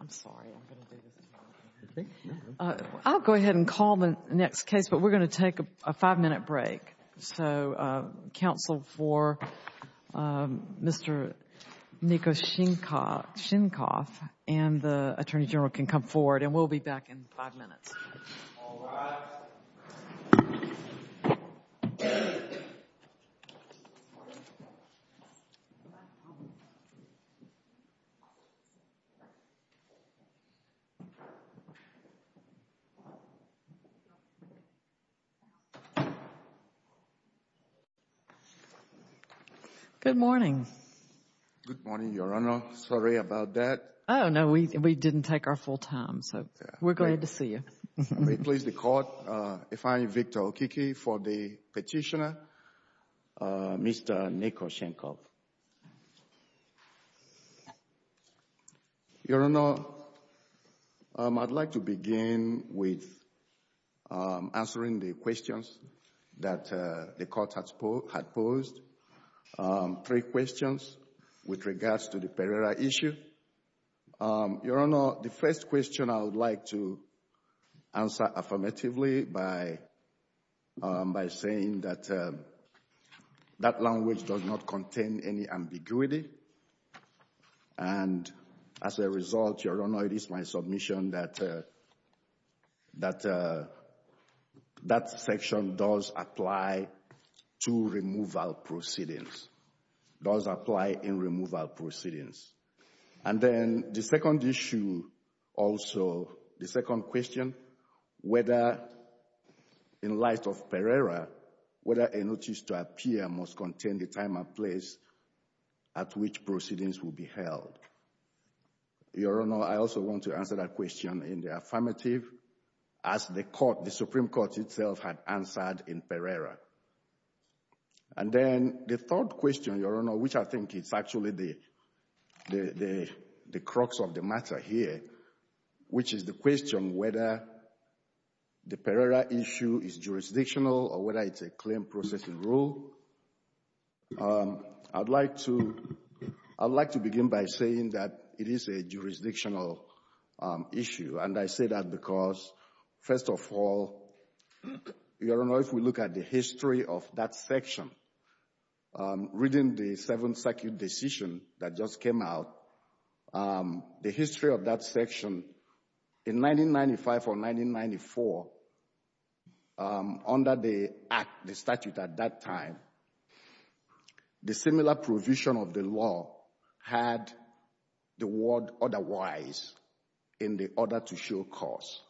I'm sorry I'll go ahead and call the next case, but we're going to take a five-minute break. So counsel for Mr. Nikoshchenkov and the Attorney General can come forward and we'll be back in five minutes Good morning. Good morning, Your Honor. Sorry about that. Oh, no, we didn't take our full time. So we're glad to see you. May it please the Court, if I may, Victor Okike for the petitioner, Mr. Nikoshchenkov. Your Honor, I'd like to begin with answering the questions that the Court had posed, three questions with regards to the Pereira issue. Your Honor, the first question I would like to answer affirmatively by saying that that language does not contain any ambiguity. And as a result, Your Honor, it is my submission that that section does apply to removal proceedings, does apply in removal proceedings. And then the second issue also, the second question, whether in light of Pereira, whether a notice to appear must contain the time and place at which proceedings will be held. Your Honor, I also want to answer that question in the affirmative, as the Supreme Court itself had answered in Pereira. And then the third question, Your Honor, which I think is actually the crux of the matter here, which is the question whether the Pereira issue is jurisdictional or whether it's a claim processing rule. I'd like to begin by saying that it is a jurisdictional issue, and I say that because, first of all, Your Honor, if we look at the history of that section, reading the Seventh Circuit decision that just came out, the history of that section in 1995 or 1994, under the statute at that time, the similar provision of the law had the word otherwise in the order to show cause.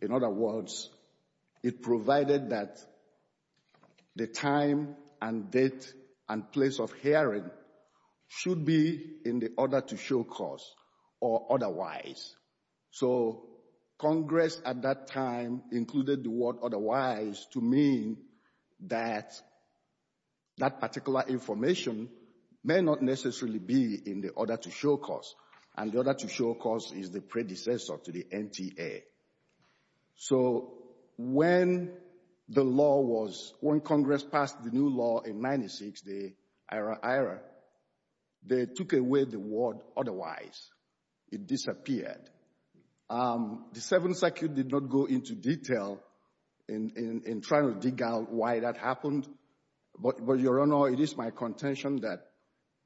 In other words, it provided that the time and date and place of hearing should be in the order to show cause or otherwise. So Congress at that time included the word otherwise to mean that that particular information may not necessarily be in the order to show cause, and the order to show cause is the predecessor to the NTA. So when the law was—when Congress passed the new law in 1996, the IRA-IRA, they took away the word otherwise. It disappeared. The Seventh Circuit did not go into detail in trying to dig out why that happened. But, Your Honor, it is my contention that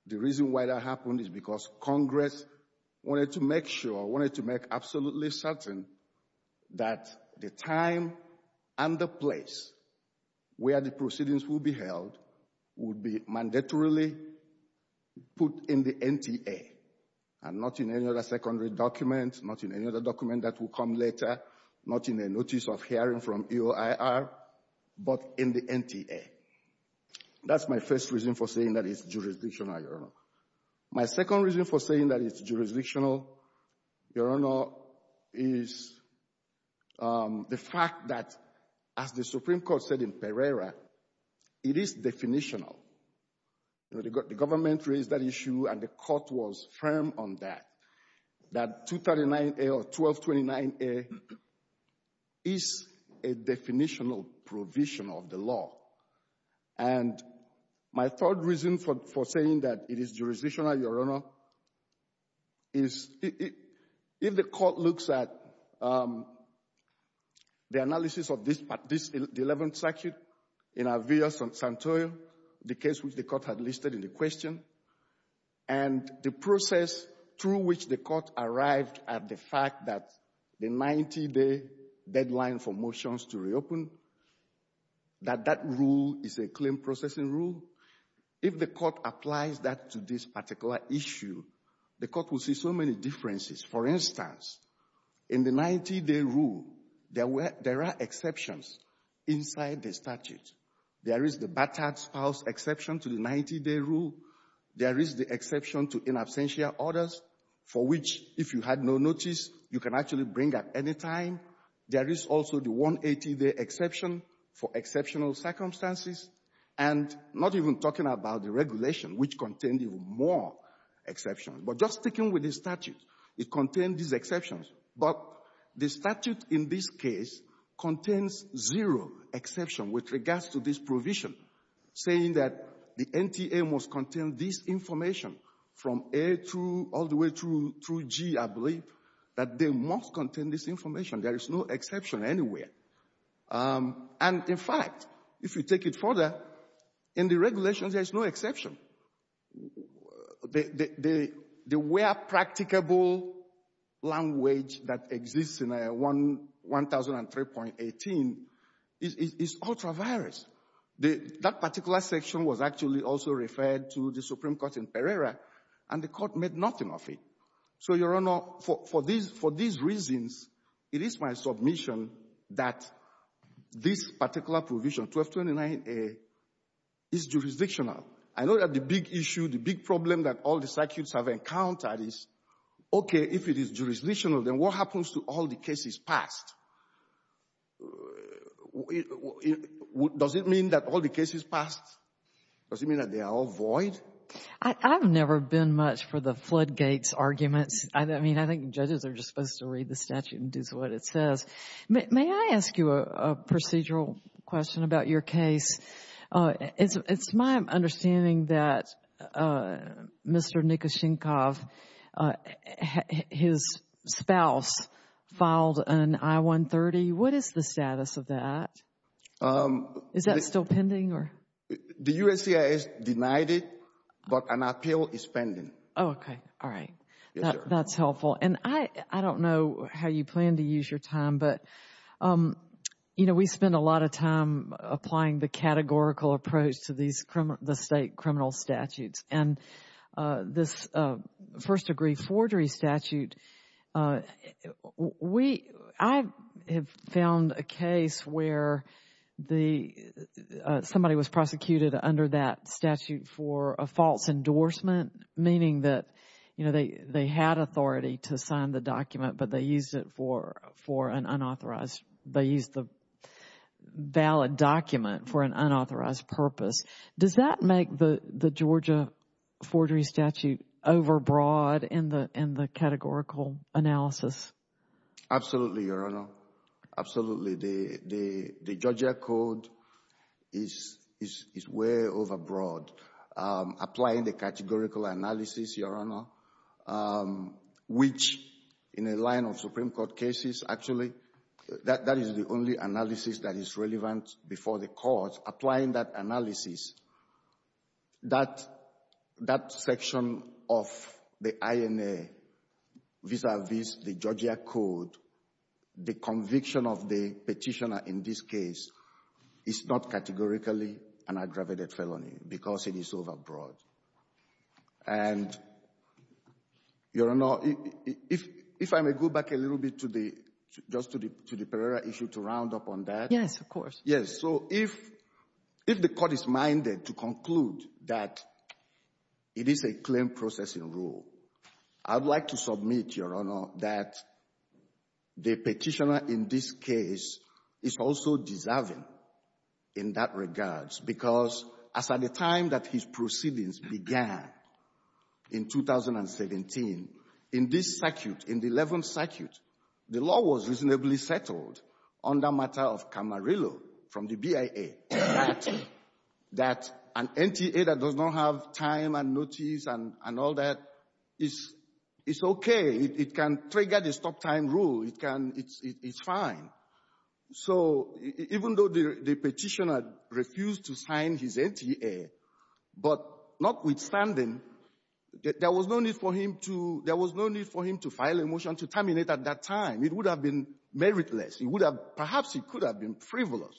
the reason why that happened is because Congress wanted to make sure, wanted to make absolutely certain that the time and the place where the proceedings will be held would be mandatorily put in the NTA and not in any other secondary document, not in any other document that will come later, not in a notice of hearing from EOIR, but in the NTA. That's my first reason for saying that it's jurisdictional, Your Honor. My second reason for saying that it's jurisdictional, Your Honor, is the fact that, as the Supreme Court said in Pereira, it is definitional. You know, the government raised that issue, and the Court was firm on that, that 239A or 1229A is a definitional provision of the law. And my third reason for saying that it is jurisdictional, Your Honor, is if the Court looks at the analysis of this—the Eleventh Circuit in Alvear-Santoro, the case which the Court had listed in the question, and the process through which the Court arrived at the fact that the 90-day deadline for motions to reopen, that that rule is a claim-processing rule—if the Court applies that to this particular issue, the Court will see so many differences. For instance, in the 90-day rule, there were — there are exceptions inside the statute. There is the Batard's House exception to the 90-day rule. There is the exception to in absentia orders, for which, if you had no notice, you can actually bring at any time. There is also the 180-day exception for exceptional circumstances, and not even talking about the regulation, which contained even more exceptions. But just sticking with the statute, it contained these exceptions, but the statute in this case contains zero exception with regards to this provision, saying that the NTA must contain this information from A through — all the way through G, I believe, that they must contain this information. There is no exception anywhere. And, in fact, if you take it further, in the regulations, there is no exception. The where practicable language that exists in 1003.18 is ultra-various. That particular section was actually also referred to the Supreme Court in Pereira, and the Court made nothing of it. So, Your Honor, for these reasons, it is my submission that this particular provision, 1229A, is jurisdictional. I know that the big issue, the big problem that all the circuits have encountered is, okay, if it is jurisdictional, then what happens to all the cases passed? Does it mean that all the cases passed? Does it mean that they are all void? I've never been much for the floodgates arguments. I mean, I think judges are just supposed to read the statute and do what it says. May I ask you a procedural question about your case? It's my understanding that Mr. Nikoshenkov, his spouse, filed an I-130. What is the status of that? Is that still pending? The USCIS denied it, but an appeal is pending. Okay. All right. That's helpful. And I don't know how you plan to use your time, but, you know, we spend a lot of time applying the categorical approach to the state criminal statutes. And this first-degree forgery statute, I have found a case where somebody was prosecuted under that statute for a false endorsement, meaning that, you know, they had authority to sign the document, but they used it for an unauthorized, they used the valid document for an unauthorized purpose. Does that make the Georgia forgery statute overbroad in the categorical analysis? Absolutely, Your Honor. Absolutely. The Georgia code is way overbroad. Applying the categorical analysis, Your Honor, which, in a line of Supreme Court cases, actually, that is the only analysis that is relevant before the courts. Applying that analysis, that section of the INA vis-a-vis the Georgia code, the conviction of the petitioner in this case is not categorically an aggravated felony because it is overbroad. And, Your Honor, if I may go back a little bit to the, just to the Pereira issue to round up on that. Yes, of course. Yes. So if the court is minded to conclude that it is a claim processing rule, I would like to submit, Your Honor, that the petitioner in this case is also deserving in that regards. Because as of the time that his proceedings began in 2017, in this circuit, in the 11th circuit, the law was reasonably settled on the matter of Camarillo from the BIA that an NTA that does not have time and notice and all that is okay. It can trigger the stop-time rule. It can — it's fine. So even though the petitioner refused to sign his NTA, but notwithstanding, there was no need for him to — there was no need for him to file a motion to terminate at that time. It would have been meritless. It would have — perhaps he could have been frivolous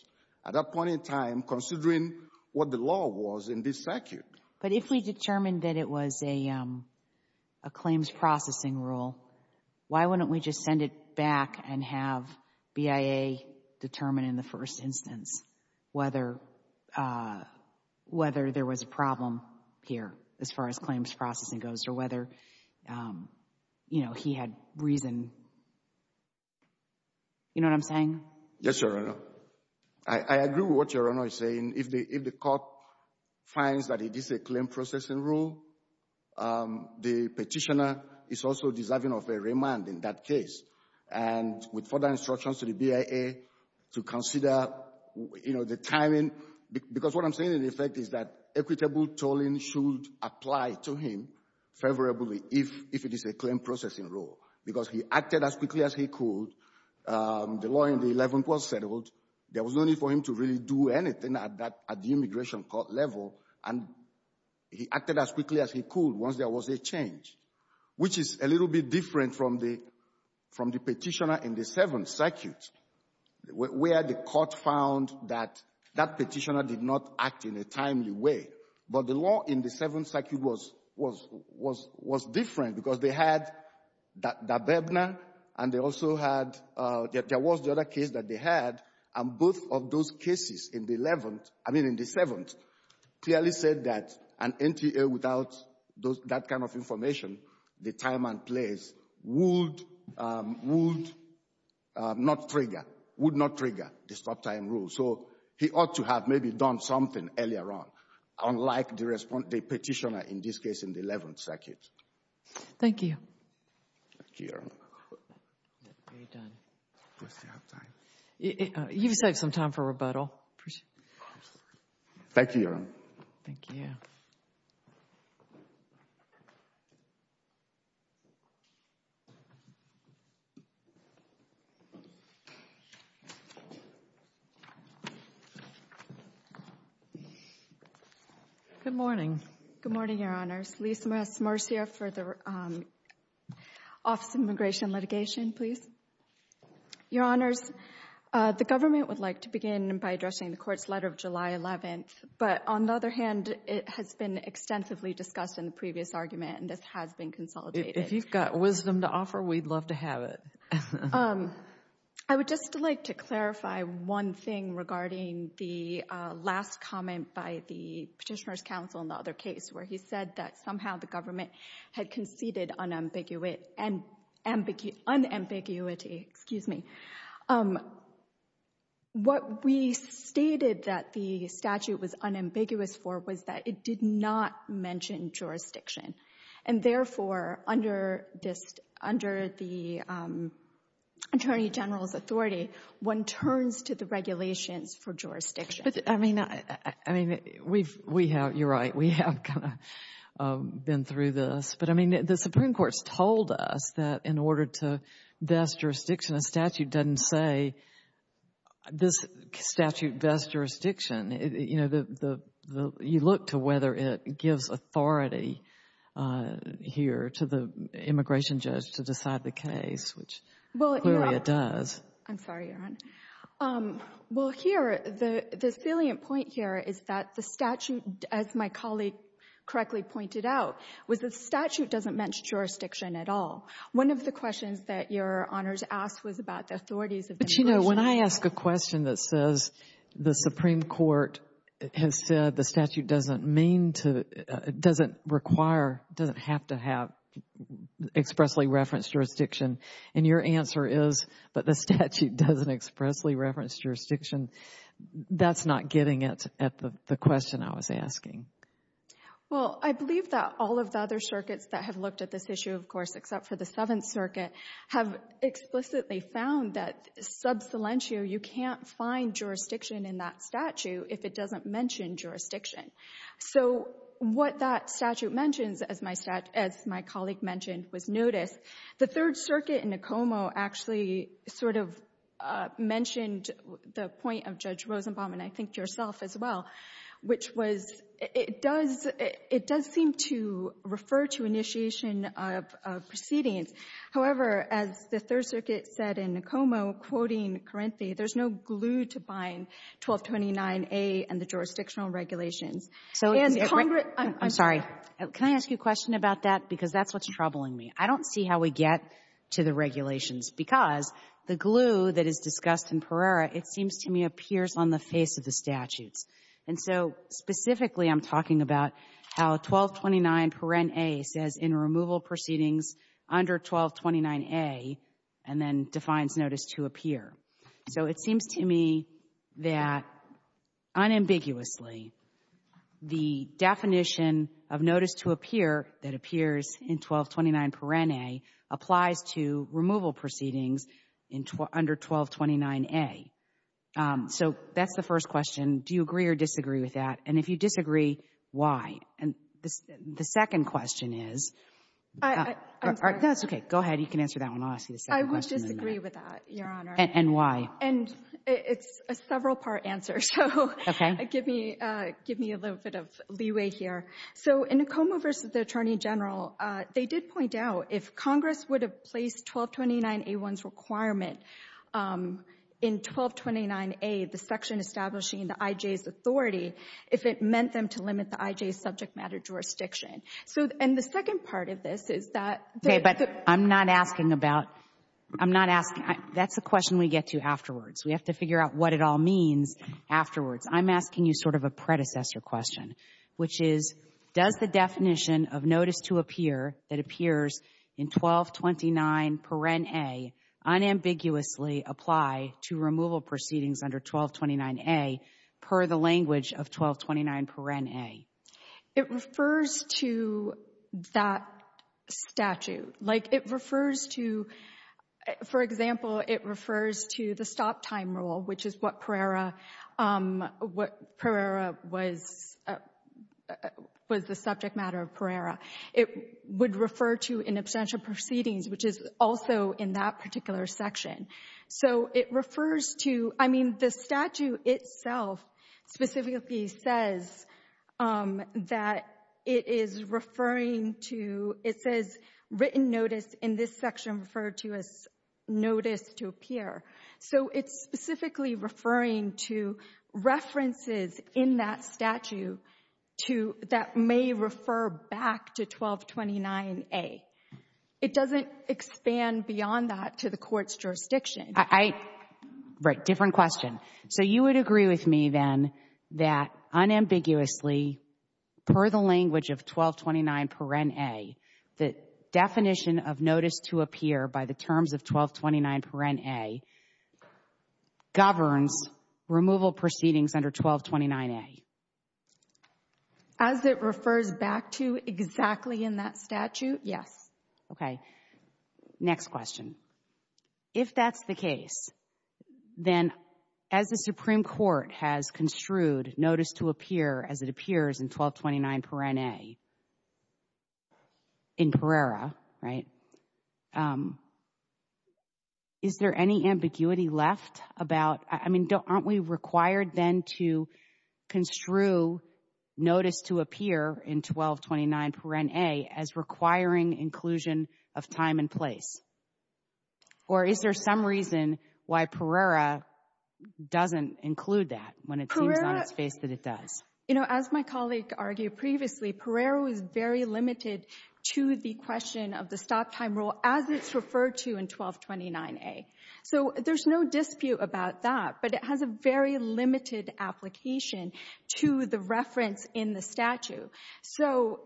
at that point in time considering what the law was in this circuit. But if we determined that it was a claims processing rule, why wouldn't we just send it back and have BIA determine in the first instance whether there was a problem here as far as claims processing goes or whether, you know, he had reason? You know what I'm saying? Yes, Your Honor. I agree with what Your Honor is saying. If the court finds that it is a claims processing rule, the petitioner is also deserving of a remand in that case. And with further instructions to the BIA to consider, you know, the timing, because what I'm saying in effect is that equitable tolling should apply to him favorably if it is a claims processing rule. Because he acted as quickly as he could. The law in the Eleventh was settled. There was no need for him to really do anything at that — at the immigration court level. And he acted as quickly as he could once there was a change, which is a little bit different from the — from the petitioner in the Seventh Circuit, where the court found that that petitioner did not act in a timely way. But the law in the Seventh Circuit was — was — was different because they had Dababna and they also had — there was the other case that they had. And both of those cases in the Eleventh — I mean in the Seventh clearly said that an NTA without those — that kind of information, the time and place, would — would not trigger — would not trigger the stop-time rule. So he ought to have maybe done something earlier on, unlike the — the petitioner in this case in the Eleventh Circuit. Thank you. Thank you, Your Honor. Are you done? Do I still have time? You've saved some time for rebuttal. Thank you, Your Honor. Thank you. Good morning. Good morning, Your Honors. Lisa S. Morris here for the Office of Immigration Litigation, please. Your Honors, the government would like to begin by addressing the court's letter of July 11th. But on the other hand, it has been extensively discussed in the previous argument, and this has been consolidated. If you've got wisdom to offer, we'd love to have it. I would just like to clarify one thing regarding the last comment by the Petitioner's Counsel in the other case, where he said that somehow the government had conceded unambiguous — unambiguity, excuse me. What we stated that the statute was unambiguous for was that it did not mention jurisdiction. And therefore, under the Attorney General's authority, one turns to the regulations for jurisdiction. I mean, you're right. We have kind of been through this. But, I mean, the Supreme Court's told us that in order to vest jurisdiction, a statute doesn't say, this statute vests jurisdiction. You know, you look to whether it gives authority here to the immigration judge to decide the case, which clearly it does. I'm sorry, Your Honor. Well, here, the salient point here is that the statute, as my colleague correctly pointed out, was the statute doesn't mention jurisdiction at all. One of the questions that Your Honors asked was about the authorities of immigration. But, you know, when I ask a question that says the Supreme Court has said the statute doesn't mean to — doesn't require, doesn't have to have expressly referenced jurisdiction, and your answer is, but the statute doesn't expressly reference jurisdiction, that's not getting it at the question I was asking. Well, I believe that all of the other circuits that have looked at this issue, of course, except for the Seventh Circuit, have explicitly found that sub salientio, you can't find jurisdiction in that statute if it doesn't mention jurisdiction. So what that statute mentions, as my colleague mentioned, was notice. The Third Circuit in Okomo actually sort of mentioned the point of Judge Rosenbaum, and I think yourself as well, which was it does — it does seem to refer to initiation of proceedings. However, as the Third Circuit said in Okomo, quoting Carinthi, there's no glue to bind 1229A and the jurisdictional regulations. So as Congress — I'm sorry. Can I ask you a question about that? Because that's what's troubling me. I don't see how we get to the regulations, because the glue that is discussed in Pereira, it seems to me, appears on the face of the statutes. And so specifically, I'm talking about how 1229 paren a says in removal proceedings under 1229A and then defines notice to appear. So it seems to me that unambiguously, the definition of notice to appear that appears in 1229 paren a applies to removal proceedings under 1229A. So that's the first question. Do you agree or disagree with that? And if you disagree, why? And the second question is — I'm sorry. That's okay. Go ahead. You can answer that one. I'll ask you the second question. I would disagree with that, Your Honor. And why? And it's a several-part answer, so give me a little bit of leeway here. So in the Coma v. Attorney General, they did point out if Congress would have placed 1229A1's requirement in 1229A, the section establishing the IJ's authority, if it meant them to limit the IJ's subject matter jurisdiction. And the second part of this is that — Okay, but I'm not asking about — I'm not asking — that's the question we get to afterwards. We have to figure out what it all means afterwards. I'm asking you sort of a predecessor question, which is, does the definition of notice to appear that appears in 1229 paren a unambiguously apply to removal proceedings under 1229A per the language of 1229 paren a? It refers to that statute. Like, it refers to — for example, it refers to the stop time rule, which is what paren a was the subject matter of paren a. It would refer to an abstention proceedings, which is also in that particular section. So it refers to — I mean, the statute itself specifically says that it is referring to — it says written notice in this section referred to as notice to appear. So it's specifically referring to references in that statute to — that may refer back to 1229A. It doesn't expand beyond that to the Court's jurisdiction. I — right, different question. So you would agree with me, then, that unambiguously, per the language of 1229 paren a, the definition of notice to appear by the terms of 1229 paren a governs removal proceedings under 1229A? As it refers back to exactly in that statute, yes. Okay. Next question. If that's the case, then, as the Supreme Court has construed notice to appear as it appears in 1229 paren a in Pereira, right, is there any ambiguity left about — I mean, don't — aren't we required then to construe notice to appear in 1229 paren a as requiring inclusion of time and place? Or is there some reason why Pereira doesn't include that when it seems on its face that it does? You know, as my colleague argued previously, Pereira was very limited to the question of the stop time rule as it's referred to in 1229A. So there's no dispute about that, but it has a very limited application to the reference in the statute. So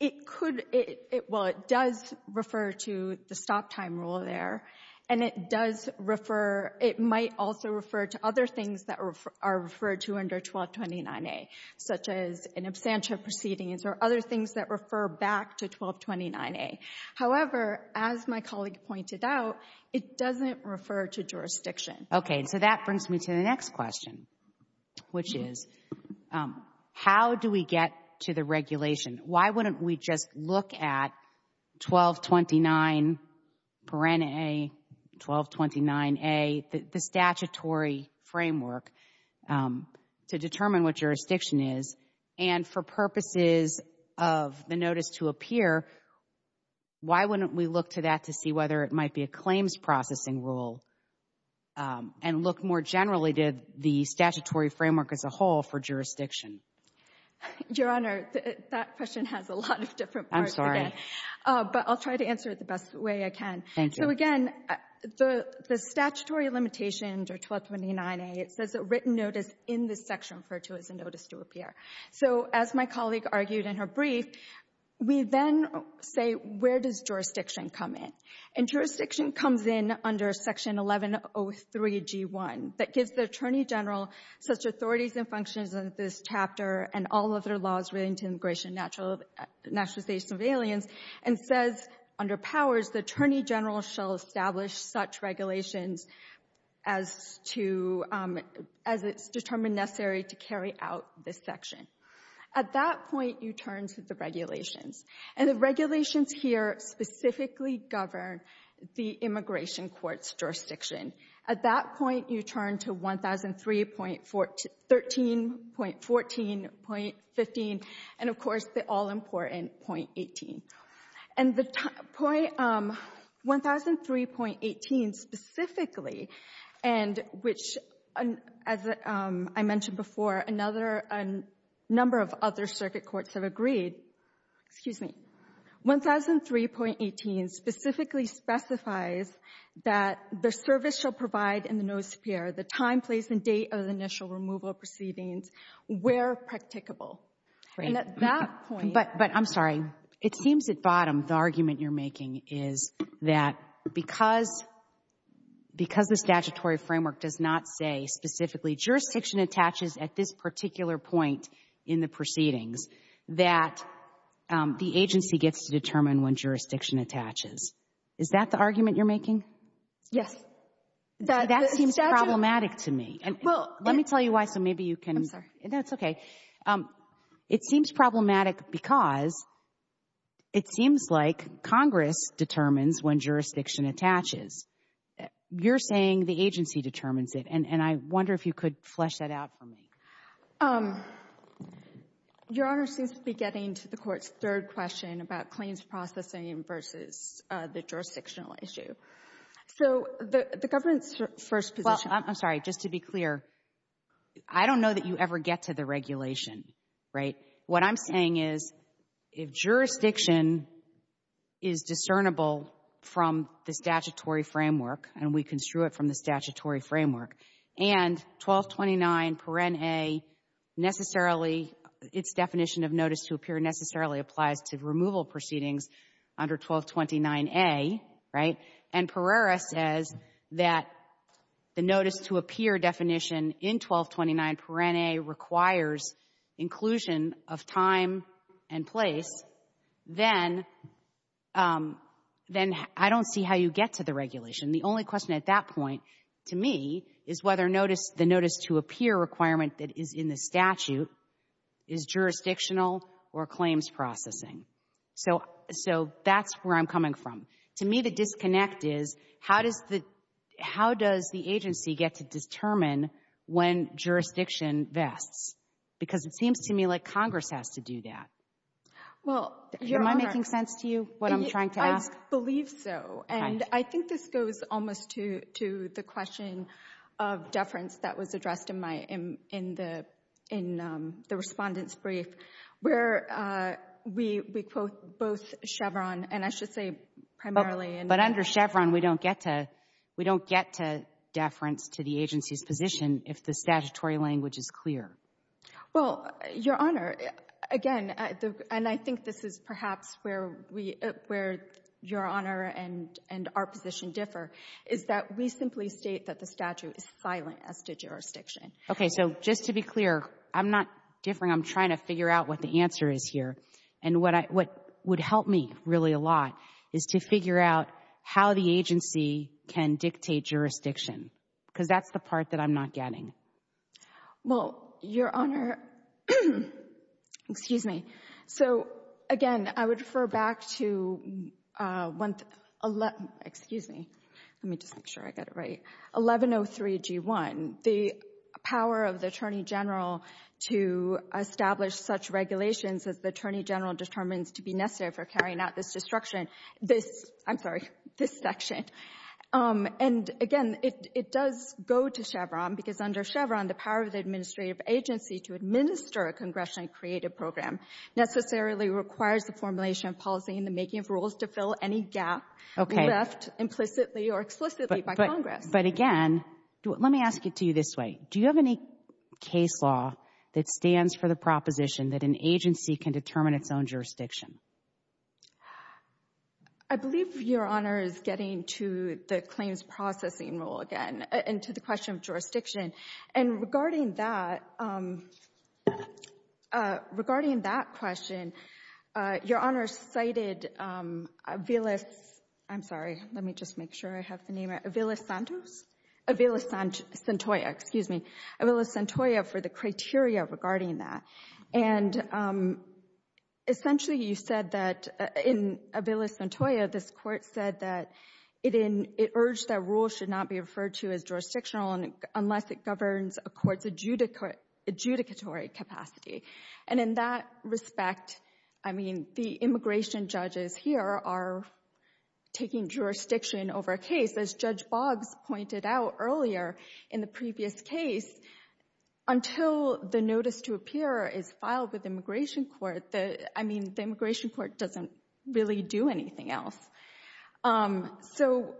it could — well, it does refer to the stop time rule there, and it does refer — it might also refer to other things that are referred to under 1229A, such as an absentia proceedings or other things that refer back to 1229A. However, as my colleague pointed out, it doesn't refer to jurisdiction. Okay, so that brings me to the next question, which is, how do we get to the regulation? Why wouldn't we just look at 1229 paren a, 1229A, the statutory framework to determine what jurisdiction is, and for purposes of the notice to appear, why wouldn't we look to that to see whether it might be a claims processing rule and look more generally to the statutory framework as a whole for jurisdiction? Your Honor, that question has a lot of different parts. I'm sorry. But I'll try to answer it the best way I can. Thank you. So, again, the statutory limitations are 1229A. It says a written notice in the section referred to as a notice to appear. So, as my colleague argued in her brief, we then say, where does jurisdiction come in? And jurisdiction comes in under Section 1103G1 that gives the Attorney General such authorities and functions as this chapter and all other laws relating to immigration, naturalization of aliens, and says, under powers, the Attorney General shall establish such regulations as it's determined necessary to carry out this section. At that point, you turn to the regulations. And the regulations here specifically govern the immigration court's jurisdiction. At that point, you turn to 1003.13, .14, .15, and, of course, the all-important .18. And the point, 1003.18 specifically, and which, as I mentioned before, another number of other circuit courts have agreed, excuse me, 1003.18 specifically specifies that the service shall provide in the notice to appear the time, place, and date of the initial removal proceedings where practicable. And at that point — It seems at bottom the argument you're making is that because the statutory framework does not say specifically jurisdiction attaches at this particular point in the proceedings that the agency gets to determine when jurisdiction attaches. Is that the argument you're making? Yes. That seems problematic to me. Let me tell you why so maybe you can — I'm sorry. That's okay. It seems problematic because it seems like Congress determines when jurisdiction attaches. You're saying the agency determines it. And I wonder if you could flesh that out for me. Your Honor seems to be getting to the Court's third question about claims processing versus the jurisdictional issue. So the government's first position — I'm sorry. Just to be clear, I don't know that you ever get to the regulation, right? What I'm saying is if jurisdiction is discernible from the statutory framework and we construe it from the statutory framework, and 1229 paren a necessarily — its definition of notice to appear necessarily applies to removal proceedings under 1229a, right, and Pereira says that the notice to appear definition in 1229 paren a requires inclusion of time and place, then I don't see how you get to the regulation. The only question at that point to me is whether notice — the notice to appear requirement that is in the statute is jurisdictional or claims processing. So — so that's where I'm coming from. To me, the disconnect is how does the — how does the agency get to determine when jurisdiction vests? Because it seems to me like Congress has to do that. Well, Your Honor — Am I making sense to you, what I'm trying to ask? I believe so. Okay. I think this goes almost to the question of deference that was addressed in my — in the — in the Respondent's brief, where we quote both Chevron, and I should say primarily — But under Chevron, we don't get to — we don't get to deference to the agency's position if the statutory language is clear. Well, Your Honor, again, and I think this is perhaps where we — where Your Honor and our position differ, is that we simply state that the statute is silent as to jurisdiction. Okay. So just to be clear, I'm not differing. I'm trying to figure out what the answer is here. And what I — what would help me really a lot is to figure out how the agency can dictate jurisdiction, because that's the part that I'm not getting. Well, Your Honor, excuse me. So, again, I would refer back to — excuse me. Let me just make sure I get it right. 1103G1, the power of the Attorney General to establish such regulations as the Attorney General determines to be necessary for carrying out this destruction. This — I'm sorry, this section. And, again, it does go to Chevron, because under Chevron, the power of the administrative agency to administer a congressionally created program necessarily requires the formulation of policy in the making of rules to fill any gap left implicitly or explicitly by Congress. But, again, let me ask it to you this way. Do you have any case law that stands for the proposition that an agency can determine its own jurisdiction? I believe Your Honor is getting to the claims processing rule again and to the question of jurisdiction. And regarding that — regarding that question, Your Honor cited Avila — I'm sorry. Let me just make sure I have the name right. Avila-Santos? Avila-Santoya. Excuse me. Avila-Santoya for the criteria regarding that. And, essentially, you said that — in Avila-Santoya, this Court said that it urged that rules should not be referred to as jurisdictional unless it governs a court's adjudicatory capacity. And in that respect, I mean, the immigration judges here are taking jurisdiction over a case, as Judge Boggs pointed out earlier in the previous case, until the notice to appear is filed with the immigration court. I mean, the immigration court doesn't really do anything else. So,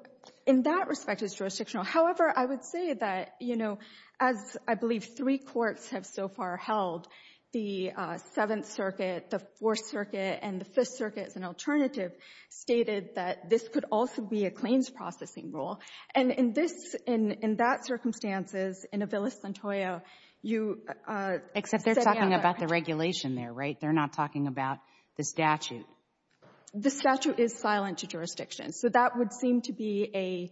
in that respect, it's jurisdictional. However, I would say that, you know, as I believe three courts have so far held, the Seventh Circuit, the Fourth Circuit, and the Fifth Circuit as an alternative stated that this could also be a claims processing rule. And in this — in that circumstances, in Avila-Santoya, you — But they're not talking about the regulation there, right? They're not talking about the statute. The statute is silent to jurisdiction. So that would seem to be a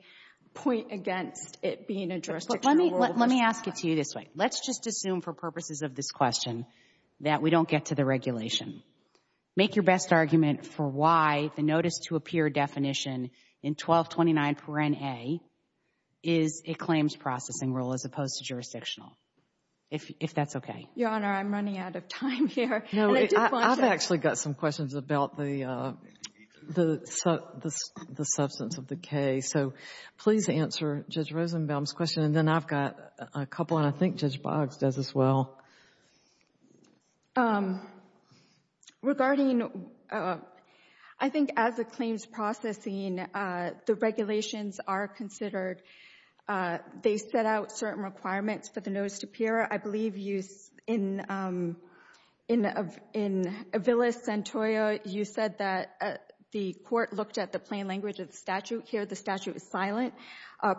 point against it being a jurisdictional rule. Let me ask it to you this way. Let's just assume for purposes of this question that we don't get to the regulation. Make your best argument for why the notice to appear definition in 1229 paren a is a claims processing rule as opposed to jurisdictional, if that's okay. Your Honor, I'm running out of time here. And I do want to — No. I've actually got some questions about the substance of the case. So please answer Judge Rosenbaum's question. And then I've got a couple, and I think Judge Boggs does as well. Regarding — I think as a claims processing, the regulations are considered They set out certain requirements for the notice to appear. I believe you — in Avila-Santoya, you said that the court looked at the plain language of the statute. Here, the statute is silent.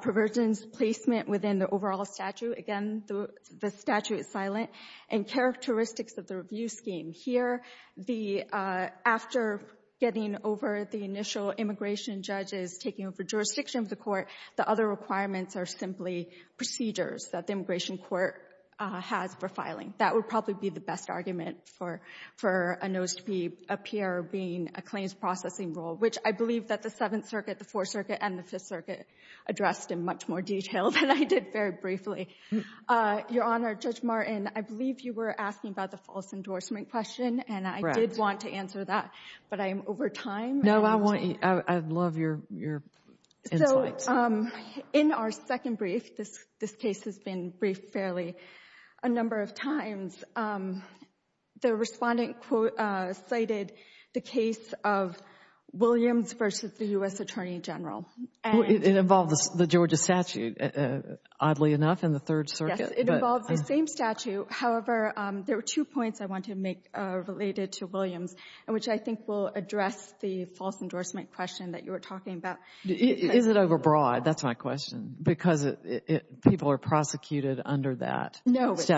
Perversions placement within the overall statute, again, the statute is silent. And characteristics of the review scheme. Here, the — after getting over the initial immigration judges, taking over jurisdiction of the court, the other requirements are simply procedures that the immigration court has for filing. That would probably be the best argument for a notice to appear being a claims processing rule, which I believe that the Seventh Circuit, the Fourth Circuit, and the Fifth Circuit addressed in much more detail than I did very briefly. Your Honor, Judge Martin, I believe you were asking about the false endorsement question, and I did want to answer that, but I am over time. No, I want — I love your insights. So in our second brief, this case has been briefed fairly a number of times. The respondent cited the case of Williams versus the U.S. Attorney General. It involves the Georgia statute, oddly enough, in the Third Circuit. Yes, it involves the same statute. However, there were two points I wanted to make related to Williams, which I think will address the false endorsement question that you were talking about. Is it overbroad? That's my question. Because people are prosecuted under that statute. No, it's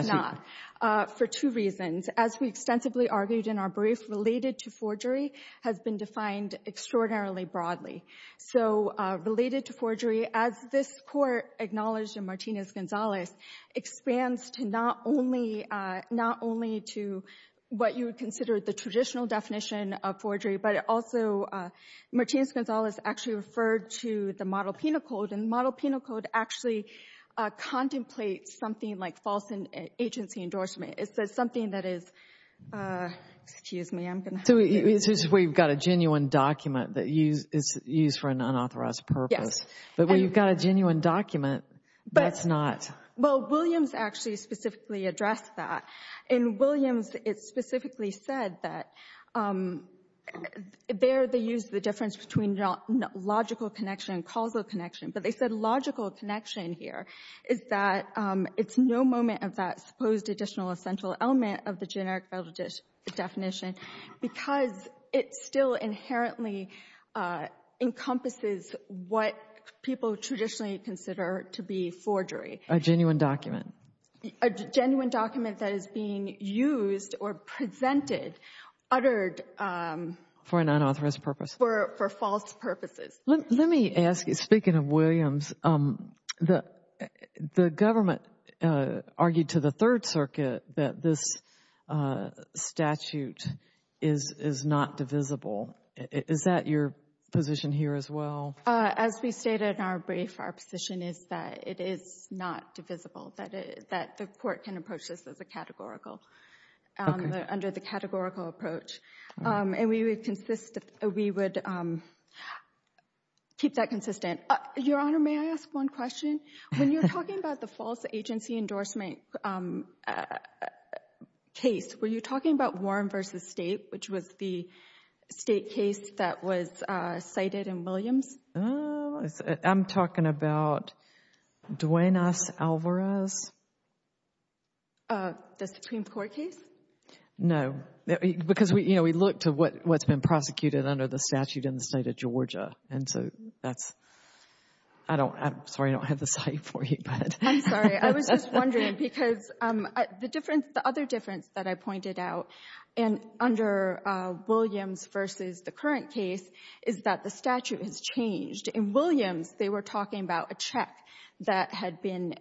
not, for two reasons. As we extensively argued in our brief, related to forgery has been defined extraordinarily broadly. So related to forgery, as this Court acknowledged in Martinez-Gonzalez, expands to not only — not only to what you would consider the traditional definition of forgery, but also Martinez-Gonzalez actually referred to the model penal code, and the model penal code actually contemplates something like false agency endorsement. It says something that is — excuse me, I'm going to — So this is where you've got a genuine document that is used for an unauthorized purpose. Yes. But where you've got a genuine document, that's not — Well, Williams actually specifically addressed that. In Williams, it specifically said that there they used the difference between logical connection and causal connection. But they said logical connection here is that it's no moment of that supposed additional essential element of the generic definition because it still inherently encompasses what people traditionally consider to be forgery. A genuine document. A genuine document that is being used or presented, uttered — For an unauthorized purpose. For false purposes. Let me ask you, speaking of Williams, the government argued to the Third Circuit that this statute is not divisible. Is that your position here as well? As we stated in our brief, our position is that it is not divisible, that the court can approach this as a categorical — Okay. Under the categorical approach. And we would keep that consistent. Your Honor, may I ask one question? When you're talking about the false agency endorsement case, were you talking about Warren v. State, which was the State case that was cited in Williams? I'm talking about Duenas Alvarez. The Supreme Court case? No. Because, you know, we looked at what's been prosecuted under the statute in the State of Georgia, and so that's — I'm sorry, I don't have the site for you. I'm sorry. I was just wondering because the other difference that I pointed out under Williams v. the current case is that the statute has changed. In Williams, they were talking about a check that had been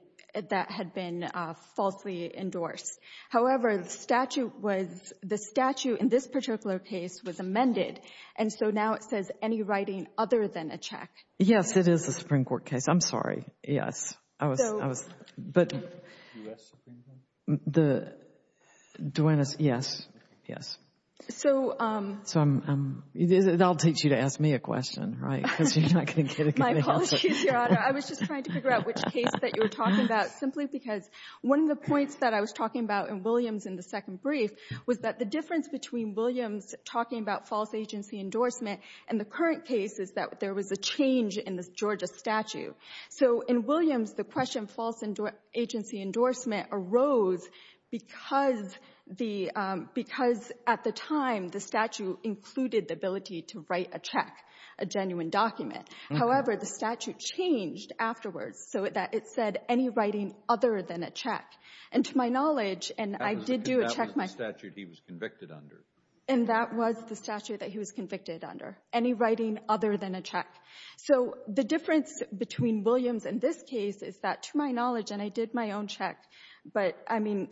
falsely endorsed. However, the statute was — the statute in this particular case was amended, and so now it says any writing other than a check. Yes. It is a Supreme Court case. I'm sorry. Yes. I was — So — But — U.S. Supreme Court? Duenas — yes. Yes. So — So I'm — I'll teach you to ask me a question, right, because you're not going to get it going. My apologies, Your Honor. I was just trying to figure out which case that you were talking about, simply because one of the points that I was talking about in Williams in the second brief was that the difference between Williams talking about false agency endorsement and the current case is that there was a change in the Georgia statute. So in Williams, the question false agency endorsement arose because the — because at the time, the statute included the ability to write a check, a genuine document. However, the statute changed afterwards so that it said any writing other than a check. And to my knowledge — That was the statute he was convicted under. And that was the statute that he was convicted under, any writing other than a check. So the difference between Williams and this case is that to my knowledge — and I did my own check, but, I mean,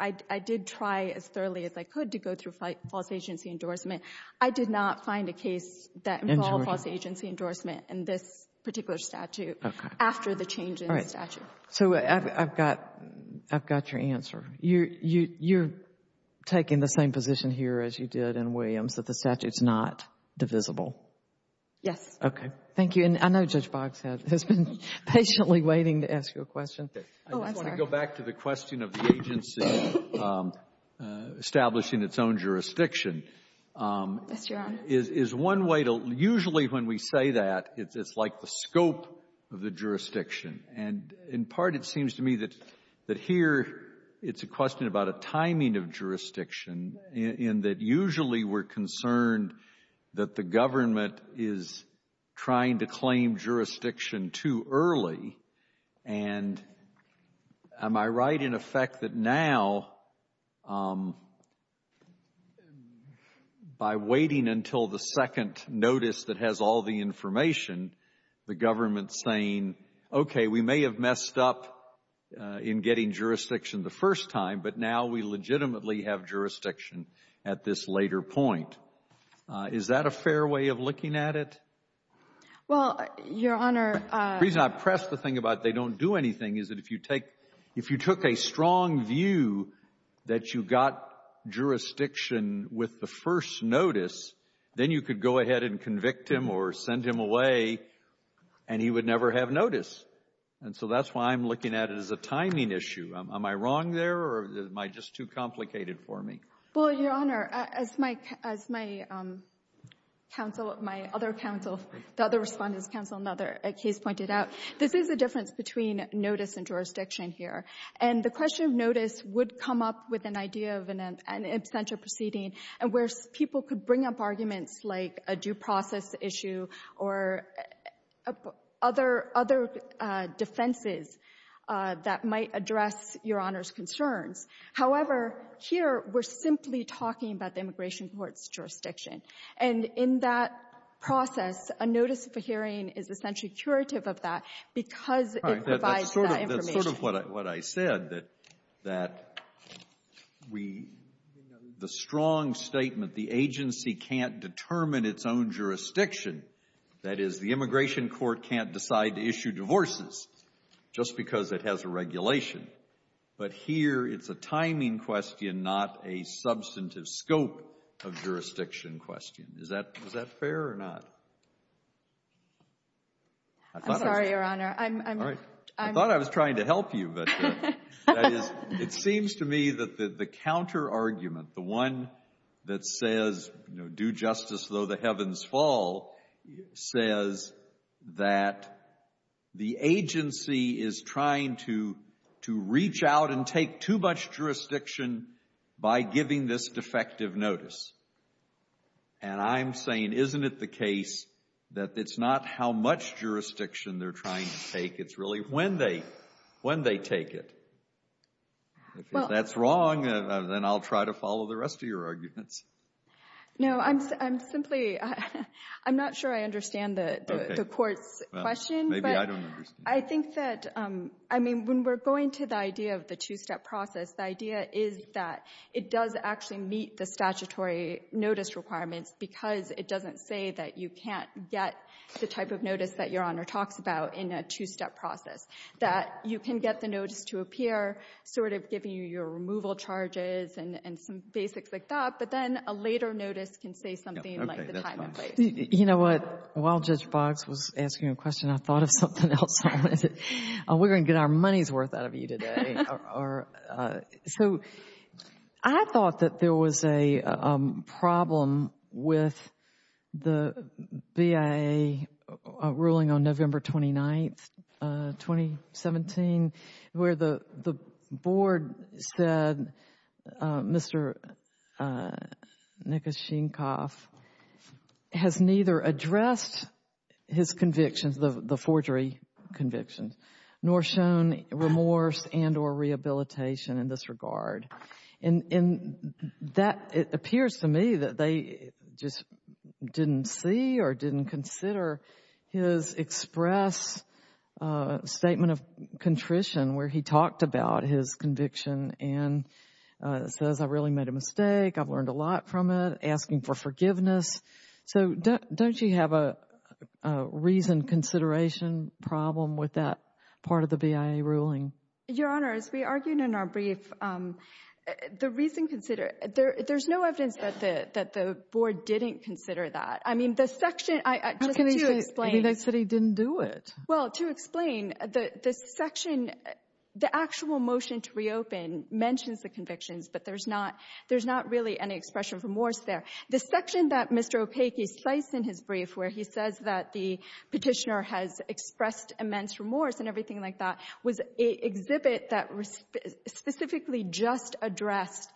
I did try as thoroughly as I could to go through false agency endorsement. I did not find a case that involved false agency endorsement in this particular statute after the change in the statute. All right. So I've got your answer. You're taking the same position here as you did in Williams, that the statute's not divisible? Yes. Okay. Thank you. And I know Judge Boggs has been patiently waiting to ask you a question. Oh, I'm sorry. Let me go back to the question of the agency establishing its own jurisdiction. Yes, Your Honor. Is one way to — usually when we say that, it's like the scope of the jurisdiction. And in part, it seems to me that here it's a question about a timing of jurisdiction in that usually we're concerned that the government is trying to claim jurisdiction too early. And am I right in effect that now, by waiting until the second notice that has all the information, the government's saying, okay, we may have messed up in getting jurisdiction the first time, but now we legitimately have jurisdiction at this later point. Is that a fair way of looking at it? Well, Your Honor — The reason I press the thing about they don't do anything is that if you take — if you took a strong view that you got jurisdiction with the first notice, then you could go ahead and convict him or send him away, and he would never have notice. And so that's why I'm looking at it as a timing issue. Am I wrong there, or am I just too complicated for me? Well, Your Honor, as my counsel, my other counsel, the other Respondent's counsel in another case pointed out, this is a difference between notice and jurisdiction here. And the question of notice would come up with an idea of an absentia proceeding where people could bring up arguments like a due process issue or other defenses that might address Your Honor's concerns. However, here we're simply talking about the immigration court's jurisdiction. And in that process, a notice of a hearing is essentially curative of that because it provides that information. All right. That's sort of what I said, that we — the strong statement, the agency can't determine its own jurisdiction, that is, the immigration court can't decide to issue divorces just because it has a regulation. But here it's a timing question, not a substantive scope of jurisdiction question. Is that fair or not? I'm sorry, Your Honor. I thought I was trying to help you, but that is — it seems to me that the counter-argument, the one that says, you know, do justice though the heavens fall, says that the agency is trying to reach out and take too much jurisdiction by giving this defective notice. And I'm saying, isn't it the case that it's not how much jurisdiction they're trying to take, it's really when they take it? If that's wrong, then I'll try to follow the rest of your arguments. No. I'm simply — I'm not sure I understand the Court's question, but I think that — I mean, when we're going to the idea of the two-step process, the idea is that it does actually meet the statutory notice requirements because it doesn't say that you can't get the type of notice that Your Honor talks about in a two-step process, that you can get the notice to appear, sort of giving you your removal charges and some basics like that, but then a later notice can say something like the time and place. You know what? While Judge Boggs was asking a question, I thought of something else. We're going to get our money's worth out of you today. So I thought that there was a problem with the BIA ruling on November 29th, 2017, where the Board said Mr. Nikashenkoff has neither addressed his convictions, the forgery convictions, nor shown remorse and or rehabilitation in this regard. And that appears to me that they just didn't see or didn't consider his express statement of contrition where he talked about his conviction and says I really made a mistake, I've learned a lot from it, asking for forgiveness. So don't you have a reasoned consideration problem with that part of the BIA ruling? Your Honor, as we argued in our brief, the reasoned consideration, there's no evidence that the Board didn't consider that. I mean, the section, just to explain. How can they say he didn't do it? Well, to explain, the section, the actual motion to reopen mentions the convictions, but there's not really any expression of remorse there. The section that Mr. Opaque cites in his brief where he says that the Petitioner has expressed immense remorse and everything like that was an exhibit that specifically just addressed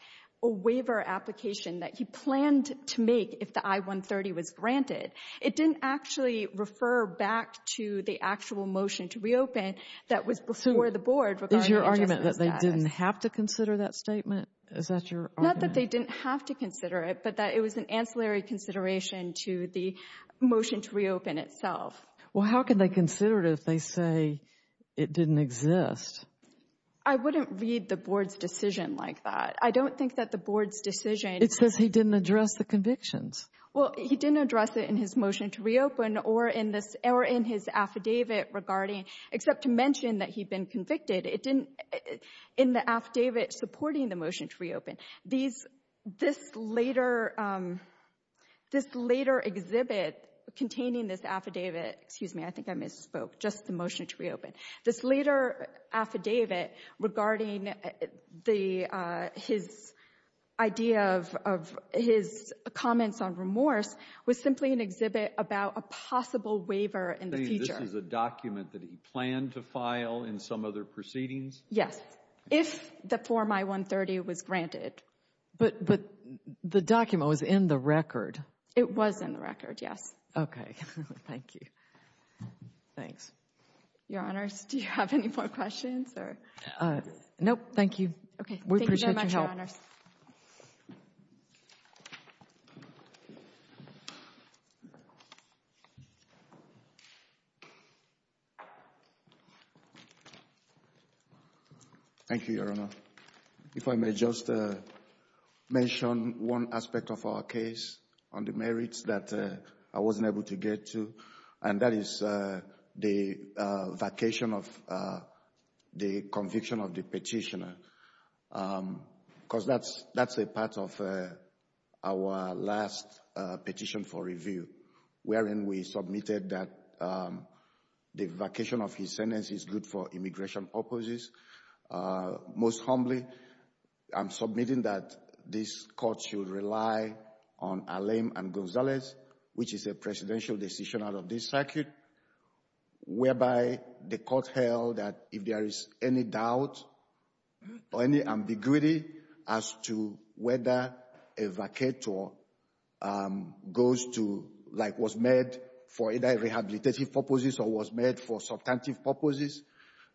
a waiver application that he planned to make if the I-130 was granted. It didn't actually refer back to the actual motion to reopen that was before the Board regarding the adjustment status. So is your argument that they didn't have to consider that statement? Is that your argument? Not that they didn't have to consider it, but that it was an ancillary consideration to the motion to reopen itself. Well, how can they consider it if they say it didn't exist? I wouldn't read the Board's decision like that. I don't think that the Board's decision— It says he didn't address the convictions. Well, he didn't address it in his motion to reopen or in his affidavit regarding, except to mention that he'd been convicted, in the affidavit supporting the motion to reopen. This later exhibit containing this affidavit— excuse me, I think I misspoke, just the motion to reopen. This later affidavit regarding his idea of his comments on remorse was simply an exhibit about a possible waiver in the future. So this is a document that he planned to file in some other proceedings? Yes, if the Form I-130 was granted. But the document was in the record. It was in the record, yes. Okay, thank you. Thanks. Your Honors, do you have any more questions? We appreciate your help. Thank you very much, Your Honors. Thank you, Your Honor. If I may just mention one aspect of our case on the merits that I wasn't able to get to, and that is the vacation of the conviction of the petitioner. Because that's a part of our last petition for review, wherein we submitted that the vacation of his sentence is good for immigration purposes. Most humbly, I'm submitting that this Court should rely on Alem and Gonzalez, which is a presidential decision out of this circuit, whereby the Court held that if there is any doubt or any ambiguity as to whether a vacator was made for either rehabilitative purposes or was made for substantive purposes,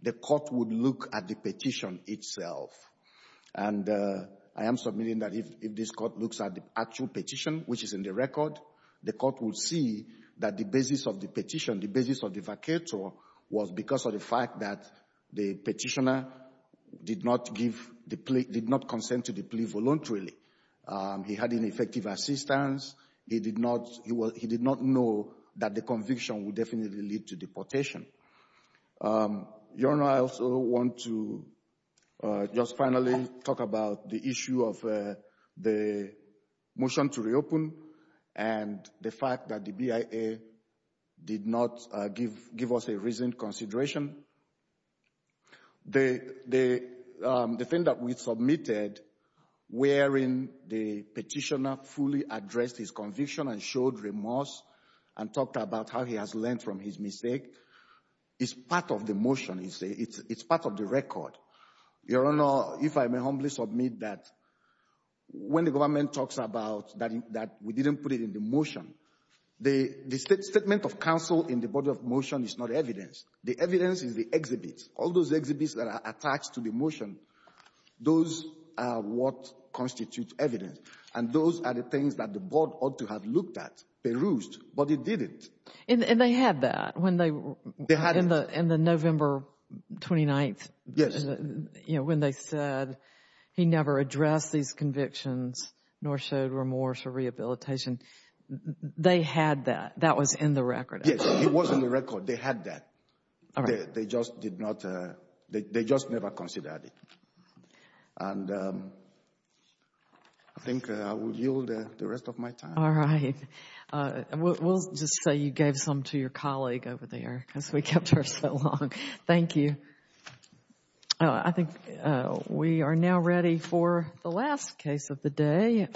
the Court would look at the petition itself. And I am submitting that if this Court looks at the actual petition, which is in the record, the Court will see that the basis of the petition, the basis of the vacator, was because of the fact that the petitioner did not consent to the plea voluntarily. He had ineffective assistance. He did not know that the conviction would definitely lead to deportation. Your Honor, I also want to just finally talk about the issue of the motion to reopen and the fact that the BIA did not give us a reasoned consideration. The thing that we submitted, wherein the petitioner fully addressed his conviction and showed remorse and talked about how he has learned from his mistake, is part of the motion, it's part of the record. Your Honor, if I may humbly submit that when the government talks about that we didn't put it in the motion, the statement of counsel in the body of motion is not evidence. The evidence is the exhibits. All those exhibits that are attached to the motion, those are what constitute evidence. And those are the things that the Board ought to have looked at, perused, but it didn't. And they had that when they were in the November 29th. Yes. You know, when they said he never addressed these convictions nor showed remorse or rehabilitation. They had that. That was in the record. Yes, it was in the record. They had that. All right. They just did not, they just never considered it. And I think I will yield the rest of my time. All right. We'll just say you gave some to your colleague over there because we kept her so long. Thank you. I think we are now ready for the last case of the day.